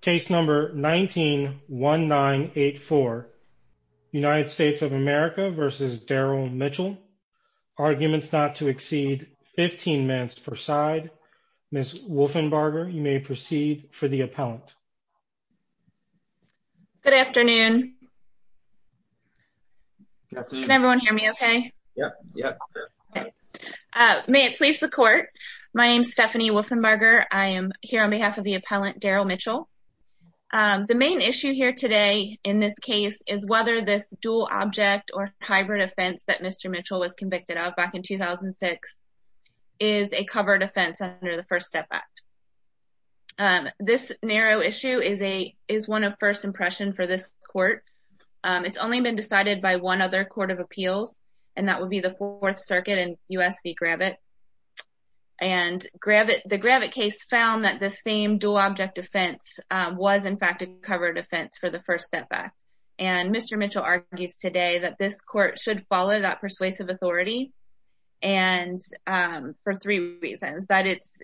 case number 19-1984. United States of America v. Darrell Mitchell. Arguments not to exceed 15 minutes per side. Ms. Wolfenbarger, you may proceed for the appellant. Good afternoon. Can everyone hear me okay? May it please the court. My name is Stephanie Wolfenbarger. I am here on behalf of the The main issue here today in this case is whether this dual object or hybrid offense that Mr. Mitchell was convicted of back in 2006 is a covered offense under the First Step Act. This narrow issue is a is one of first impression for this court. It's only been decided by one other court of appeals and that would be the Fourth Circuit and U.S. v. Gravitt. And the Gravitt case found that the same dual object offense was in fact a covered offense for the First Step Act. And Mr. Mitchell argues today that this court should follow that persuasive authority for three reasons. That it's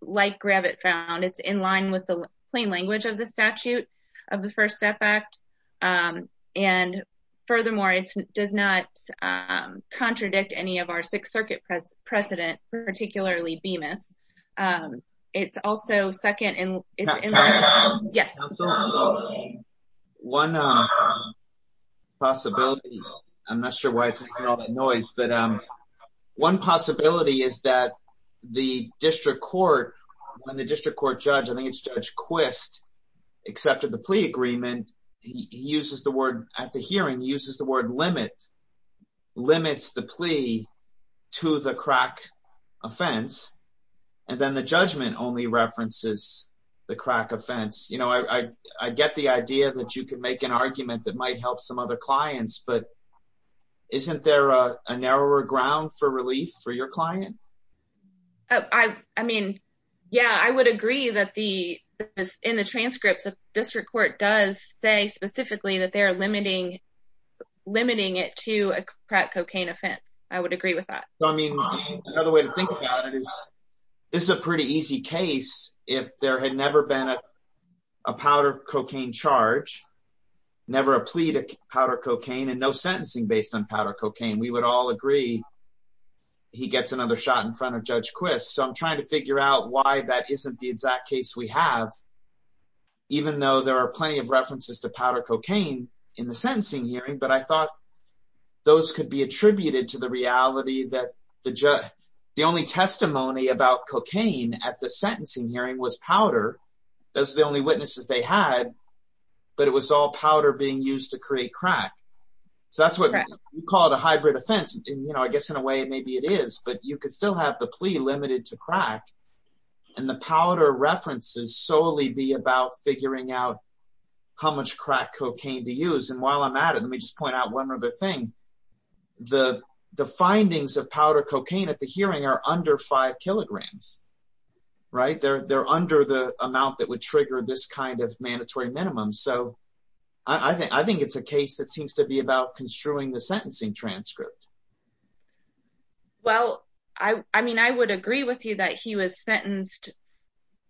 like Gravitt found. It's in line with the plain language of the statute of the First Step Act. And furthermore, it does not contradict any of Sixth Circuit precedent, particularly Bemis. It's also second and it's yes. One possibility, I'm not sure why it's making all that noise, but one possibility is that the district court, when the district court judge, I think it's Judge Quist, accepted the plea agreement, he uses the word at the hearing, he uses the word limit, limits the plea to the crack offense, and then the judgment only references the crack offense. You know, I get the idea that you could make an argument that might help some other clients, but isn't there a narrower ground for relief for your client? I mean, yeah, I would agree that the, in the transcript, the district court does say that they're limiting it to a crack cocaine offense. I would agree with that. So, I mean, another way to think about it is, this is a pretty easy case. If there had never been a powder cocaine charge, never a plea to powder cocaine and no sentencing based on powder cocaine, we would all agree he gets another shot in front of Judge Quist. So, I'm trying to figure out why that isn't the exact case we have, even though there are plenty of references to powder cocaine in the sentencing hearing, but I thought those could be attributed to the reality that the judge, the only testimony about cocaine at the sentencing hearing was powder. That's the only witnesses they had, but it was all powder being used to create crack. So, that's what we call it a hybrid offense. And, you know, I guess in a way, maybe it is, but you could still have the plea limited to crack and the powder references solely be about figuring out how much crack cocaine to use. And while I'm at it, let me just point out one other thing. The findings of powder cocaine at the hearing are under five kilograms, right? They're under the amount that would trigger this kind of mandatory minimum. So, I think it's a case that seems to be construing the sentencing transcript. Well, I mean, I would agree with you that he was sentenced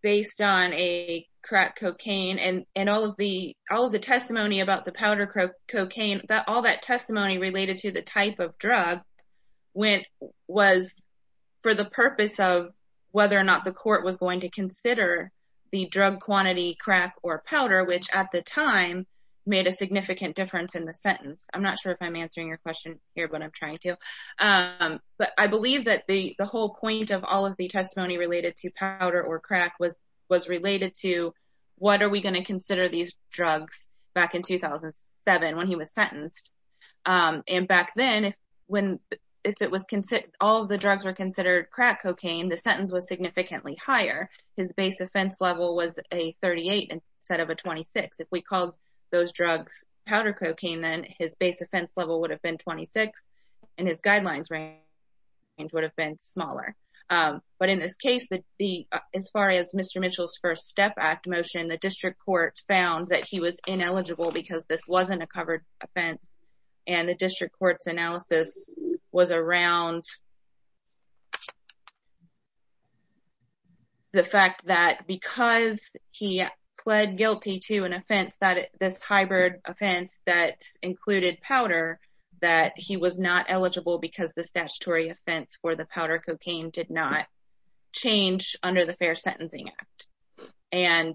based on a crack cocaine and all of the testimony about the powder cocaine, all that testimony related to the type of drug was for the purpose of whether or not the court was going to consider the drug quantity crack or powder, which at the time made a significant difference in the sentence. I'm not sure if I'm answering your question here, but I'm trying to. But I believe that the whole point of all of the testimony related to powder or crack was related to what are we going to consider these drugs back in 2007 when he was sentenced. And back then, when all of the drugs were considered crack cocaine, the sentence was significantly higher. His base offense level was a 38 instead of a 26. If we called those drugs powder cocaine, then his base offense level would have been 26 and his guidelines range would have been smaller. But in this case, as far as Mr. Mitchell's first step act motion, the district court found that he was ineligible because this wasn't a covered offense and the district court's analysis was around the fact that because he pled guilty to an offense that this hybrid offense that included powder, that he was not eligible because the statutory offense for the powder cocaine did not change under the Fair Sentencing Act. And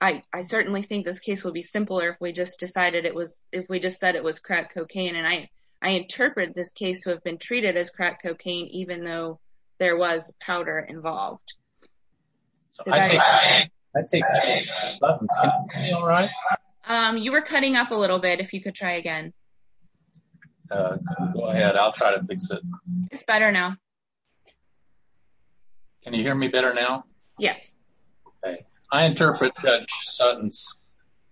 I certainly think this case would be simpler if we just decided it was if we just said it was crack cocaine. And I, I interpret this case to have been treated as crack cocaine, even though there was powder involved. You were cutting up a little bit if you could try again. Go ahead. I'll try to fix it. It's better now. Can you hear me better now? Yes. I interpret Judge Sutton's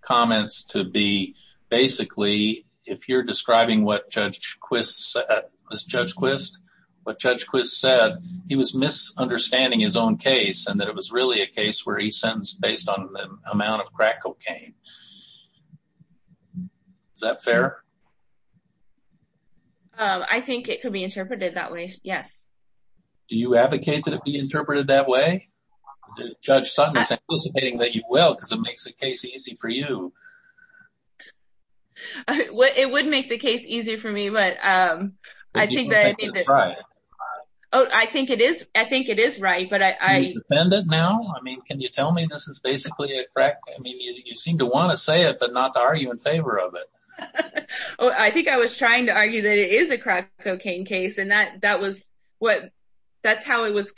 comments to be basically, if you're describing what Judge Quist said, he was misunderstanding his own case and that it was really a case where he sentenced based on the amount of crack cocaine. Is that fair? I think it could be interpreted that way. Yes. Do you advocate that it be interpreted that way? Judge Sutton is anticipating that you will because it makes the case easy for you. It would make the case easy for me, but I think that I think it is. I think it is right, but I defend it now. I mean, can you tell me this is basically a crack? I mean, you seem to want to say it, but not to argue in favor of it. Well, I think I was trying to argue that it is a crack case, and that's how it was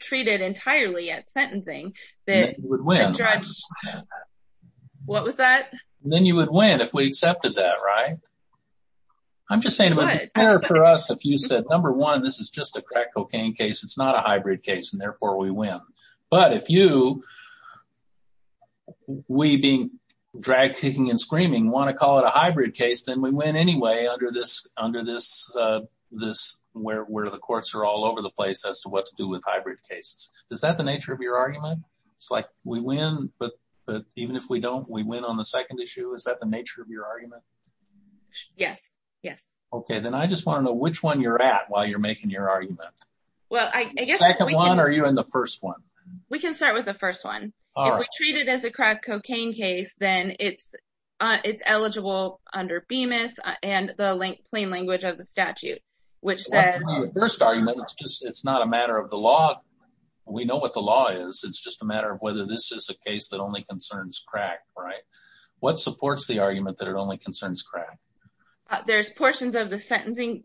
treated entirely at sentencing. What was that? Then you would win if we accepted that, right? I'm just saying it would be fair for us if you said, number one, this is just a crack cocaine case. It's not a hybrid case, and therefore we win. But if you, we being drag kicking and where the courts are all over the place as to what to do with hybrid cases, is that the nature of your argument? It's like we win, but even if we don't, we win on the second issue. Is that the nature of your argument? Yes. Yes. Okay. Then I just want to know which one you're at while you're making your argument. Well, I guess- The second one or you're in the first one? We can start with the first one. If we treat it as a crack cocaine case, then it's eligible under Bemis and the plain language of the statute, which says- What's wrong with the first argument? It's just, it's not a matter of the law. We know what the law is. It's just a matter of whether this is a case that only concerns crack, right? What supports the argument that it only concerns crack? There's portions of the sentencing.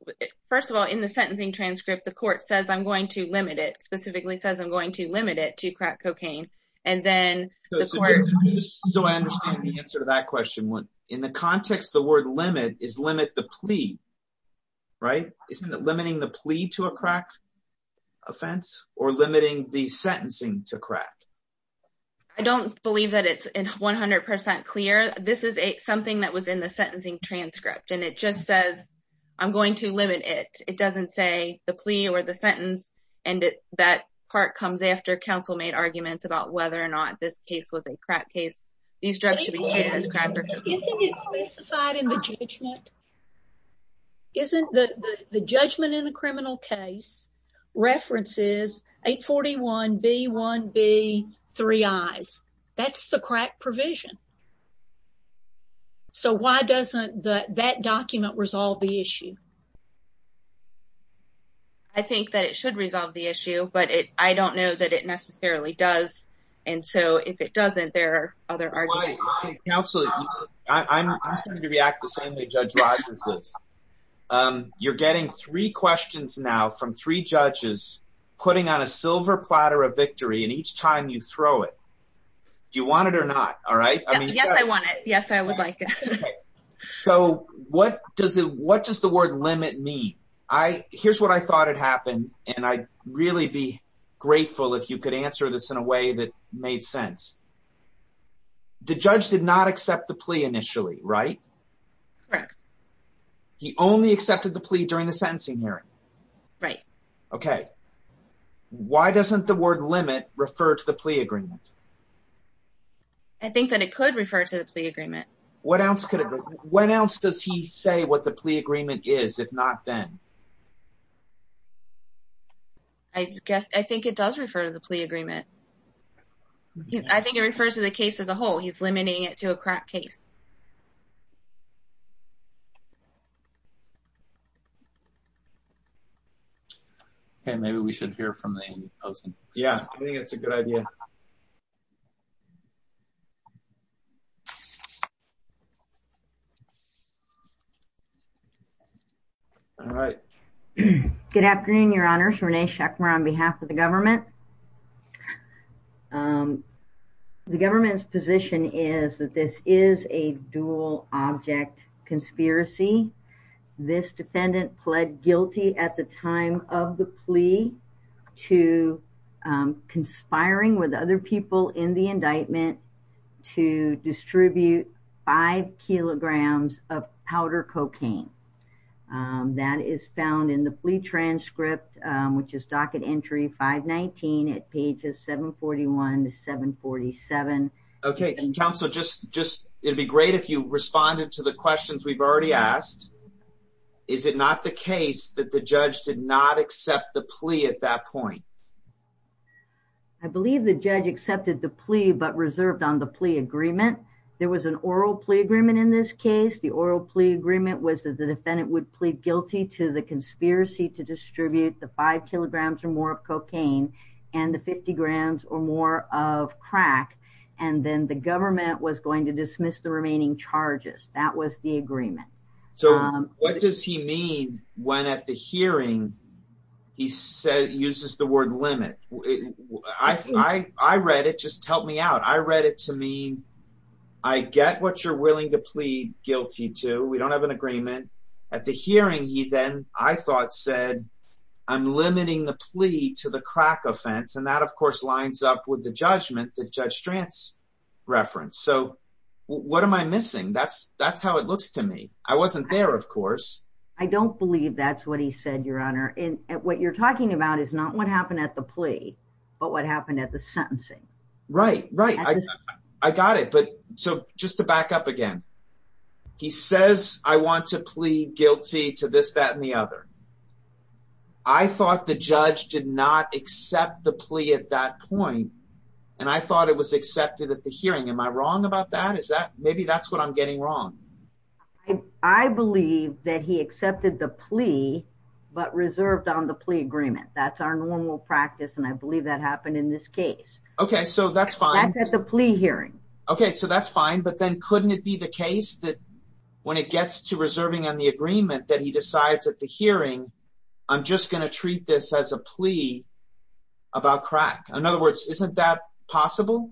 First of all, in the sentencing transcript, the court says I'm going to limit it, specifically says I'm going to limit it to crack cocaine. And then- So I understand the answer to that question. In the context, the word limit is limit the plea, right? Isn't it limiting the plea to a crack offense or limiting the sentencing to crack? I don't believe that it's 100% clear. This is something that was in the sentencing transcript, and it just says, I'm going to limit it. It doesn't say the plea or the sentence. And that part comes after counsel made arguments about whether or not this case was a crack case. These drugs should be treated as crack cocaine. Isn't it specified in the judgment? The judgment in a criminal case references 841B1B3I. That's the crack provision. So why doesn't that document resolve the issue? I think that it should resolve the issue, but I don't know that it necessarily does. And so if it doesn't, there are other arguments. Counsel, I'm starting to react the same way Judge Rodgers is. You're getting three questions now from three judges putting on a silver platter of victory, and each time you throw it. Do you want it or not? All right. Yes, I want it. Yes, I would like it. So what does the word limit mean? Here's what I thought had happened, and I'd really be grateful if you could answer this in a way that made sense. The judge did not accept the plea initially, right? Correct. He only accepted the plea during the sentencing hearing? Right. Okay. Why doesn't the word limit refer to the plea agreement? I think that it could refer to the plea agreement. What else could it? When else does he say what the plea agreement is, if not then? I guess I think it does refer to the plea agreement. I think it refers to the case as a whole. He's limiting it to a crack case. Okay, maybe we should hear from the opposing. Yeah, I think it's a good idea. All right. Good afternoon, Your Honors. Rene Schekmer on behalf of the government. The government's position is that this is a dual object conspiracy. This defendant pled guilty at the time of the plea to conspiring with other people in the five kilograms of powder cocaine that is found in the plea transcript, which is docket entry 519 at pages 741 to 747. Okay. And counsel, it'd be great if you responded to the questions we've already asked. Is it not the case that the judge did not accept the plea at that point? I believe the judge accepted the plea, but reserved on the plea agreement. There was an oral plea agreement in this case. The oral plea agreement was that the defendant would plead guilty to the conspiracy to distribute the five kilograms or more of cocaine and the 50 grams or more of crack. And then the government was going to dismiss the remaining charges. That was the agreement. So what does he mean when at the hearing he uses the word limit? I read it. Just help me out. I read it to me. I get what you're willing to plead guilty to. We don't have an agreement. At the hearing, he then, I thought, said, I'm limiting the plea to the crack offense. And that, of course, lines up with the judgment that Judge Strantz referenced. So what am I missing? That's how it looks to me. I wasn't there, of course. I don't believe that's what he said, what you're talking about is not what happened at the plea, but what happened at the sentencing. Right, right. I got it. But so just to back up again, he says, I want to plead guilty to this, that, and the other. I thought the judge did not accept the plea at that point. And I thought it was accepted at the hearing. Am I wrong about that? Is that maybe that's what I'm getting wrong? I believe that he accepted the plea, but reserved on the plea agreement. That's our normal practice. And I believe that happened in this case. Okay, so that's fine. That's at the plea hearing. Okay, so that's fine. But then couldn't it be the case that when it gets to reserving on the agreement that he decides at the hearing, I'm just going to treat this as a plea about crack? In other words, isn't that possible?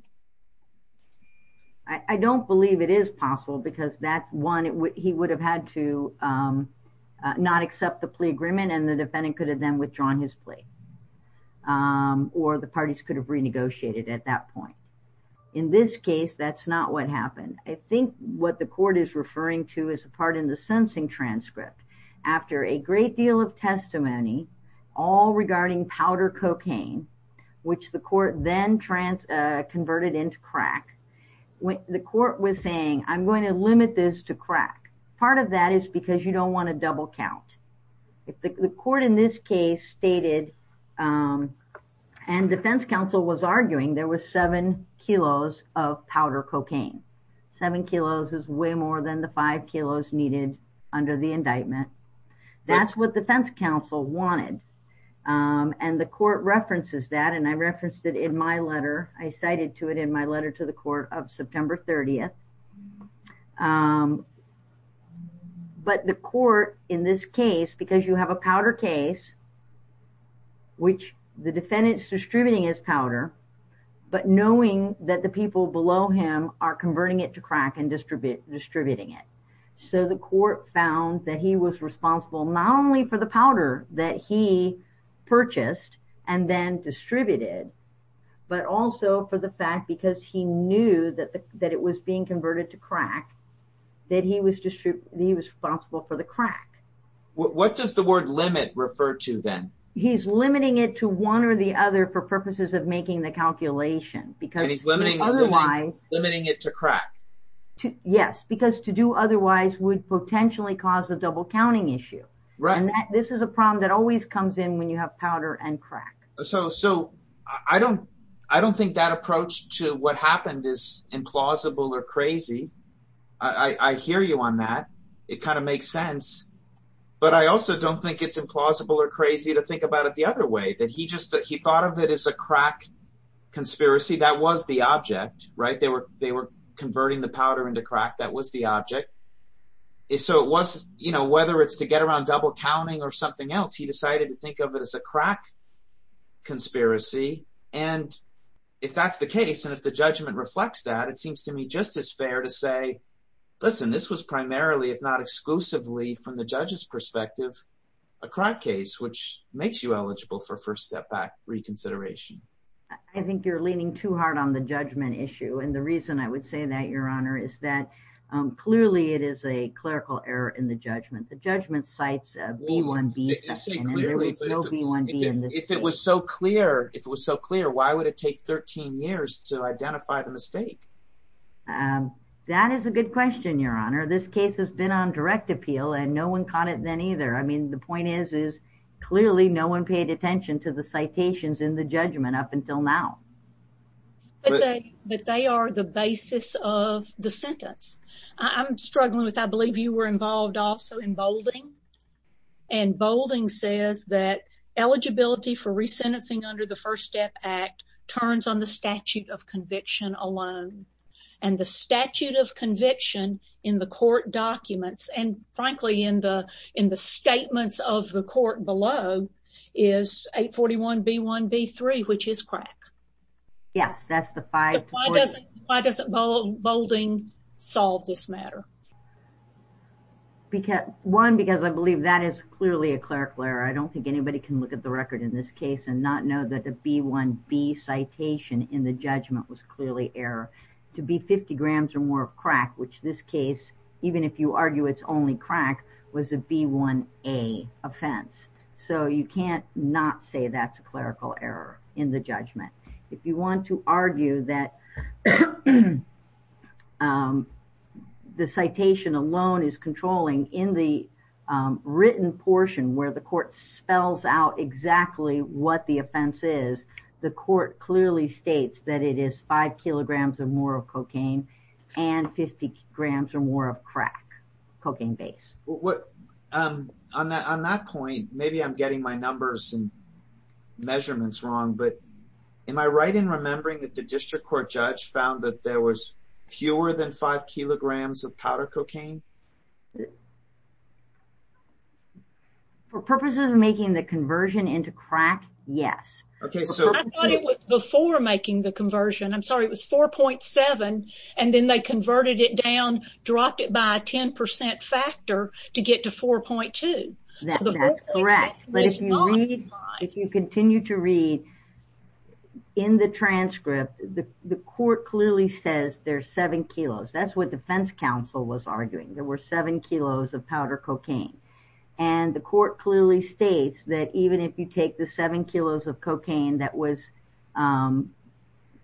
I don't believe it is possible because that one, he would have had to not accept the plea agreement and the defendant could have then withdrawn his plea. Or the parties could have renegotiated at that point. In this case, that's not what happened. I think what the court is referring to is a part in the sentencing transcript. After a great deal of testimony, all regarding powder cocaine, which the court then converted into crack. The court was saying, I'm going to limit this to crack. Part of that is because you don't want to double count. The court in this case stated, and defense counsel was arguing, there was seven kilos of powder cocaine. Seven kilos is way more than the five kilos needed under the indictment. That's what defense counsel wanted. And the court references that and I referenced it in my letter. I cited to it in my letter to the court of September 30th. But the court in this case, because you have a powder case, which the defendant is distributing his powder, but knowing that the people below him are converting it to crack and distributing it. The court found that he was responsible not only for the powder that he purchased and then distributed, but also for the fact because he knew that it was being converted to crack, that he was responsible for the crack. What does the word limit refer to then? He's limiting it to one or the other for purposes of making the calculation. And he's limiting it to crack? Yes, because to do otherwise would potentially cause a double counting issue. Right. And this is a problem that always comes in when you have powder and crack. So I don't think that approach to what happened is implausible or crazy. I hear you on that. It kind of makes sense. But I also don't think it's implausible or crazy to think about it the other way, that he just thought of it as a crack conspiracy. That was the object, right? They were converting the powder into crack. That was the object. So whether it's to get around double counting or something else, he decided to think of it as a crack conspiracy. And if that's the case, and if the judgment reflects that, it seems to me just as fair to say, listen, this was primarily, if not exclusively from the judge's perspective, a crack case, which makes you eligible for first step back reconsideration. I think you're leaning too hard on the judgment issue. And the reason I would say that, Your Honor, is that clearly it is a clerical error in the judgment. The judgment cites a B1B section and there was no B1B in this case. If it was so clear, why would it take 13 years to identify the mistake? That is a good question, Your Honor. This case has been on direct appeal and no one caught it then either. I mean, the point is, is clearly no one paid attention to the citations in the judgment. Up until now. But they are the basis of the sentence. I'm struggling with, I believe you were involved also in Boulding. And Boulding says that eligibility for resentencing under the First Step Act turns on the statute of conviction alone. And the statute of conviction in the court documents, and frankly, in the statements of the court below, is 841B1B3, which is crack. Yes, that's the 540. Why doesn't Boulding solve this matter? One, because I believe that is clearly a clerical error. I don't think anybody can look at the record in this case and not know that the B1B citation in the judgment was clearly error. To be 50 grams or more of crack, which this case, even if you argue it's only crack, was a B1A offense. So you can't not say that's a clerical error in the judgment. If you want to argue that the citation alone is controlling in the written portion where the court spells out exactly what the offense is, the court clearly states that it is 5 kilograms or more of cocaine and 50 grams or more of crack, cocaine base. What, on that point, maybe I'm getting my numbers and measurements wrong, but am I right in remembering that the district court judge found that there was fewer than 5 kilograms of powder cocaine? For purposes of making the conversion into crack, yes. Okay, so- I thought it was before making the conversion. I'm sorry, it was 4.7, and then they converted it down, dropped it by a 10% factor to get to 4.2. That's correct, but if you read, if you continue to read in the transcript, the court clearly says there's 7 kilos. That's what defense counsel was arguing. There were 7 kilos of powder cocaine, and the court clearly states that even if you take the 7 kilos of cocaine that was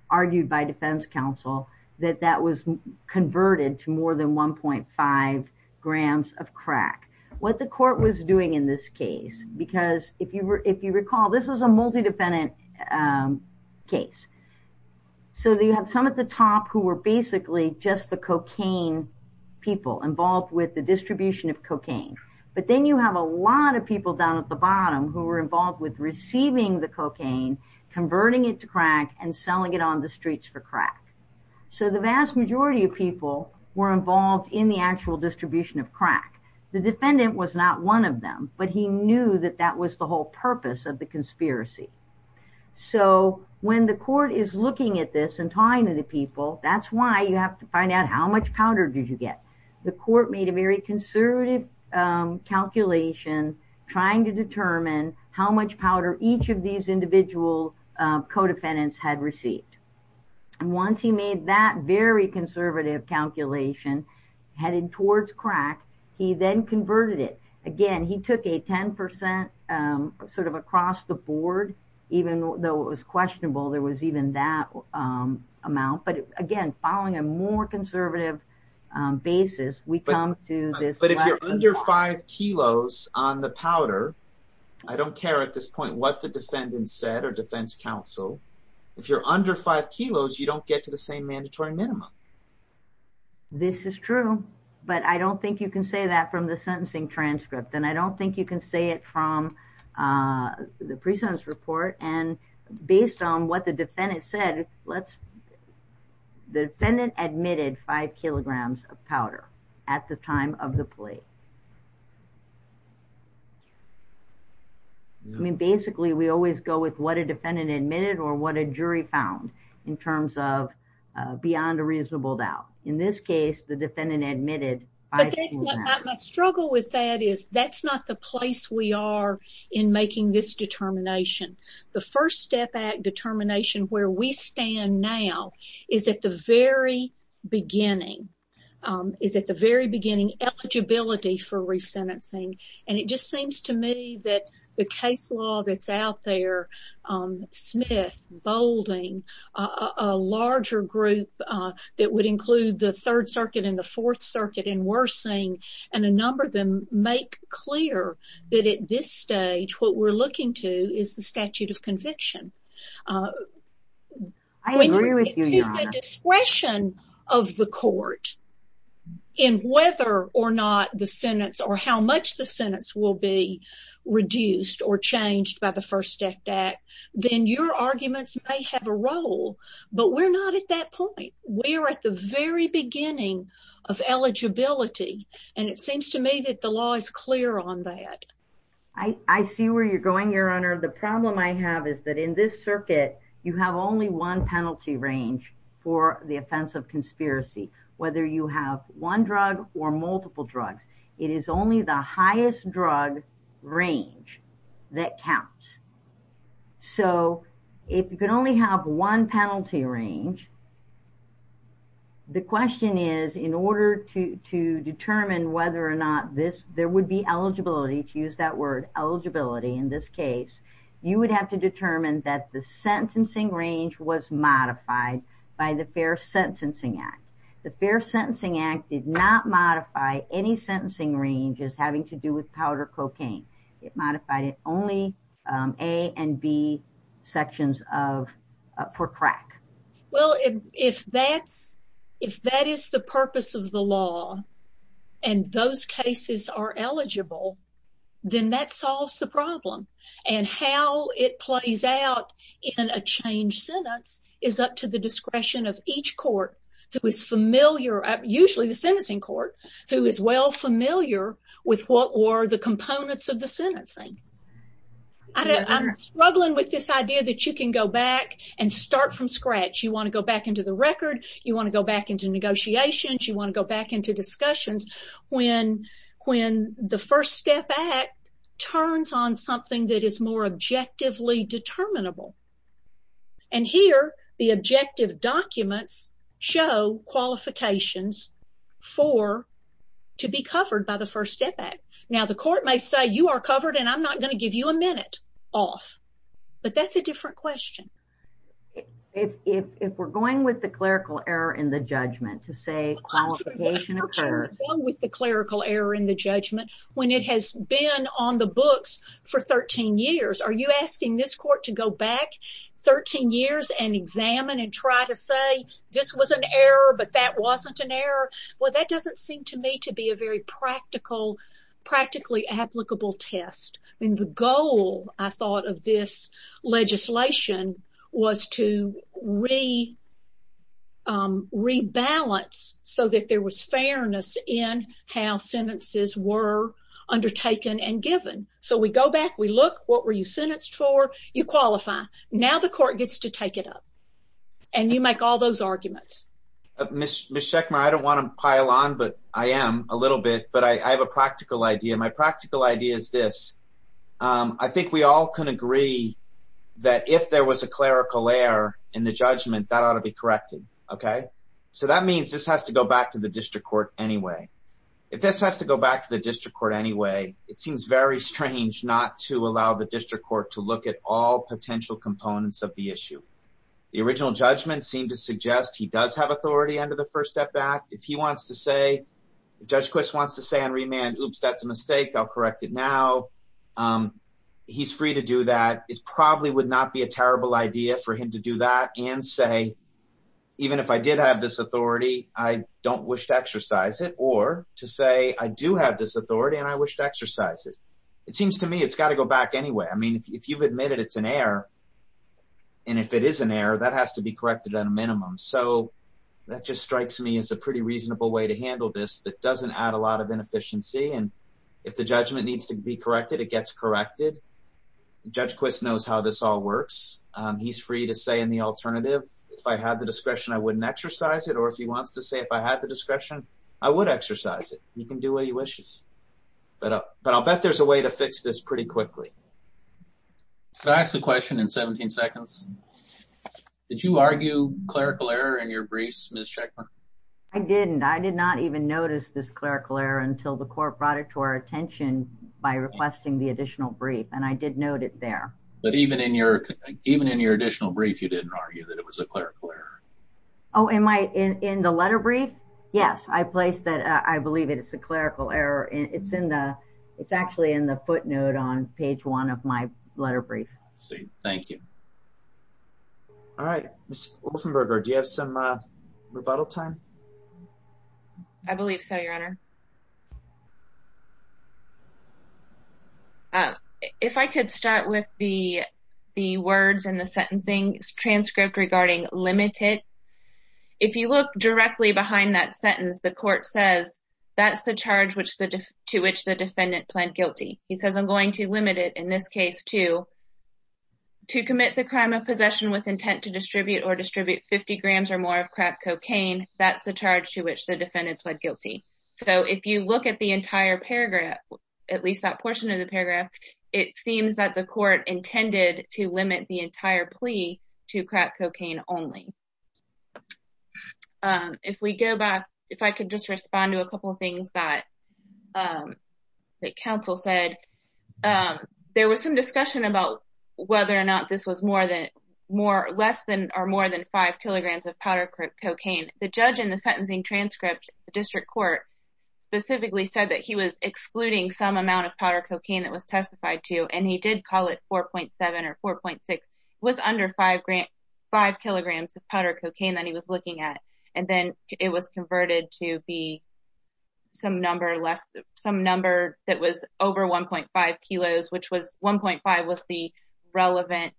argued by defense counsel, that that was converted to more than 1.5 grams of crack. What the court was doing in this case, because if you recall, this was a multi-defendant case. So you have some at the top who were basically just the cocaine people involved with the distribution of cocaine, but then you have a lot of people down at the bottom who were involved with receiving the cocaine, converting it to crack, and selling it on the streets for crack. So the vast majority of people were involved in the actual distribution of crack. The defendant was not one of them, but he knew that that was the whole purpose of the conspiracy. So when the court is looking at this and talking to the people, that's why you have to find out how much powder did you get. The court made a very conservative calculation trying to determine how much powder each of these individual co-defendants had received. And once he made that very conservative calculation headed towards crack, he then converted it. Again, he took a 10% sort of across the board, even though it was questionable there was even that amount. But again, following a more conservative basis, we come to this- But if you're under five kilos on the powder, I don't care at this point what the defendant said or defense counsel, if you're under five kilos, you don't get to the same mandatory minimum. This is true, but I don't think you can say that from the sentencing transcript. And I don't think you can say it from the pre-sentence report. And based on what the defendant said, the defendant admitted five kilograms of powder at the time of the plea. I mean, basically, we always go with what a defendant admitted or what a jury found in terms of beyond a reasonable doubt. In this case, the defendant admitted five kilograms of powder. But my struggle with that is that's not the place we are in making this determination. The First Step Act determination where we stand now is at the very beginning, for re-sentencing. And it just seems to me that the case law that's out there, Smith, Boulding, a larger group that would include the Third Circuit and the Fourth Circuit and Wersing and a number of them make clear that at this stage, what we're looking to is the statute of conviction. I agree with you, Your Honor. The discretion of the court in whether or not the sentence or how much the sentence will be reduced or changed by the First Step Act, then your arguments may have a role. But we're not at that point. We're at the very beginning of eligibility. And it seems to me that the law is clear on that. I see where you're going, Your Honor. The problem I have is that in this circuit, you have only one penalty range for the offense of conspiracy, whether you have one drug or multiple drugs. It is only the highest drug range that counts. So if you can only have one penalty range, the question is in order to determine whether or not there would be eligibility, to use that word, eligibility in this case, you would have to determine that the sentencing range was modified by the Fair Sentencing Act. The Fair Sentencing Act did not modify any sentencing ranges having to do with powder cocaine. It modified it only A and B sections for crack. Well, if that is the purpose of the law and those cases are eligible, then that solves the problem. And how it plays out in a changed sentence is up to the discretion of each court who is familiar, usually the sentencing court, who is well familiar with what were the components of the sentencing. I'm struggling with this idea that you can go back and start from scratch. You want to go back into the record. You want to go back into negotiations. You want to go back into discussions. When the First Step Act turns on something that is more objectively determinable. And here, the objective documents show qualifications for to be covered by the First Step Act. Now, the court may say you are covered and I'm not going to give you a minute off. But that's a different question. If we're going with the clerical error in the judgment to say qualification occurs. With the clerical error in the judgment, when it has been on the books for 13 years, are you asking this court to go back 13 years and examine and try to say this was an error, but that wasn't an error? Well, that doesn't seem to me to be a very practical, practically applicable test. And the goal, I thought, of this legislation was to rebalance so that there was fairness in how sentences were undertaken and given. So we go back, we look, what were you sentenced for? You qualify. Now the court gets to take it up. And you make all those arguments. Ms. Schechmer, I don't want to pile on, but I am a little bit. But I have a practical idea. My practical idea is this. I think we all can agree that if there was a clerical error in the judgment, that ought to be corrected. OK? So that means this has to go back to the district court anyway. If this has to go back to the district court anyway, it seems very strange not to allow the district court to look at all potential components of the issue. The original judgment seemed to suggest he does have authority under the First Step Act. If he wants to say, if Judge Quist wants to say on remand, oops, that's a mistake. I'll correct it now. He's free to do that. It probably would not be a terrible idea for him to do that and say, even if I did have this authority, I don't wish to exercise it. Or to say, I do have this authority, and I wish to exercise it. It seems to me it's got to go back anyway. I mean, if you've admitted it's an error, and if it is an error, that has to be corrected at a minimum. So that just strikes me as a pretty reasonable way to handle this that doesn't add a lot of inefficiency. And if the judgment needs to be corrected, it gets corrected. Judge Quist knows how this all works. He's free to say in the alternative, if I had the discretion, I wouldn't exercise it. Or if he wants to say, if I had the discretion, I would exercise it. You can do what he wishes. But I'll bet there's a way to fix this pretty quickly. Can I ask a question in 17 seconds? Did you argue clerical error in your briefs, Ms. Checkman? I didn't. I did not even notice this clerical error until the court brought it to our attention by requesting the additional brief. And I did note it there. But even in your additional brief, you didn't argue that it was a clerical error. Oh, in the letter brief? Yes, I placed that. I believe it's a clerical error. It's actually in the footnote on page one of my letter brief. See, thank you. All right, Ms. Wolfenberger, do you have some rebuttal time? I believe so, Your Honor. If I could start with the words in the sentencing transcript regarding limited. If you look directly behind that sentence, the court says, that's the charge to which the defendant pled guilty. He says, I'm going to limit it, in this case, to commit the crime of possession with intent to distribute or distribute 50 grams or more of crap cocaine. That's the charge to which the defendant pled guilty. So, if you look at the sentence, the court says, if you look at the entire paragraph, at least that portion of the paragraph, it seems that the court intended to limit the entire plea to crap cocaine only. If we go back, if I could just respond to a couple of things that counsel said. There was some discussion about whether or not this was less than or more than five kilograms of powder cocaine. The judge in the sentencing transcript, the district court, specifically said that he was excluding some amount of powder cocaine that was testified to, and he did call it 4.7 or 4.6. It was under five kilograms of powder cocaine that he was looking at, and then it was converted to be some number that was over 1.5 kilos, 1.5 was the relevant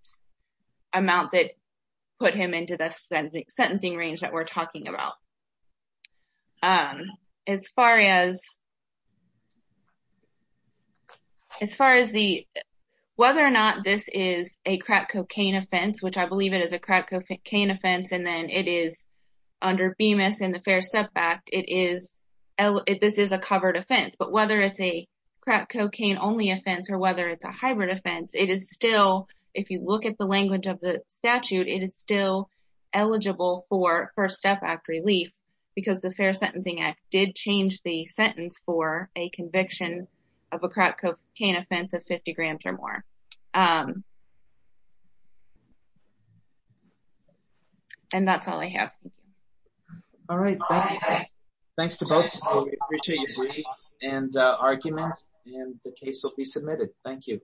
amount that put him into the sentencing range that we're talking about. As far as whether or not this is a crap cocaine offense, which I believe it is a crap cocaine offense, and then it is under Bemis and the Fair Step Act, this is a covered offense. Whether it's a crap cocaine only offense or whether it's a hybrid offense, if you look at the language of the statute, it is still eligible for First Step Act relief because the Fair Sentencing Act did change the sentence for a conviction of a crap cocaine offense of 50 grams or more. That's all I have. All right, thanks to both. We appreciate your briefs and arguments, and the case will be submitted. Thank you.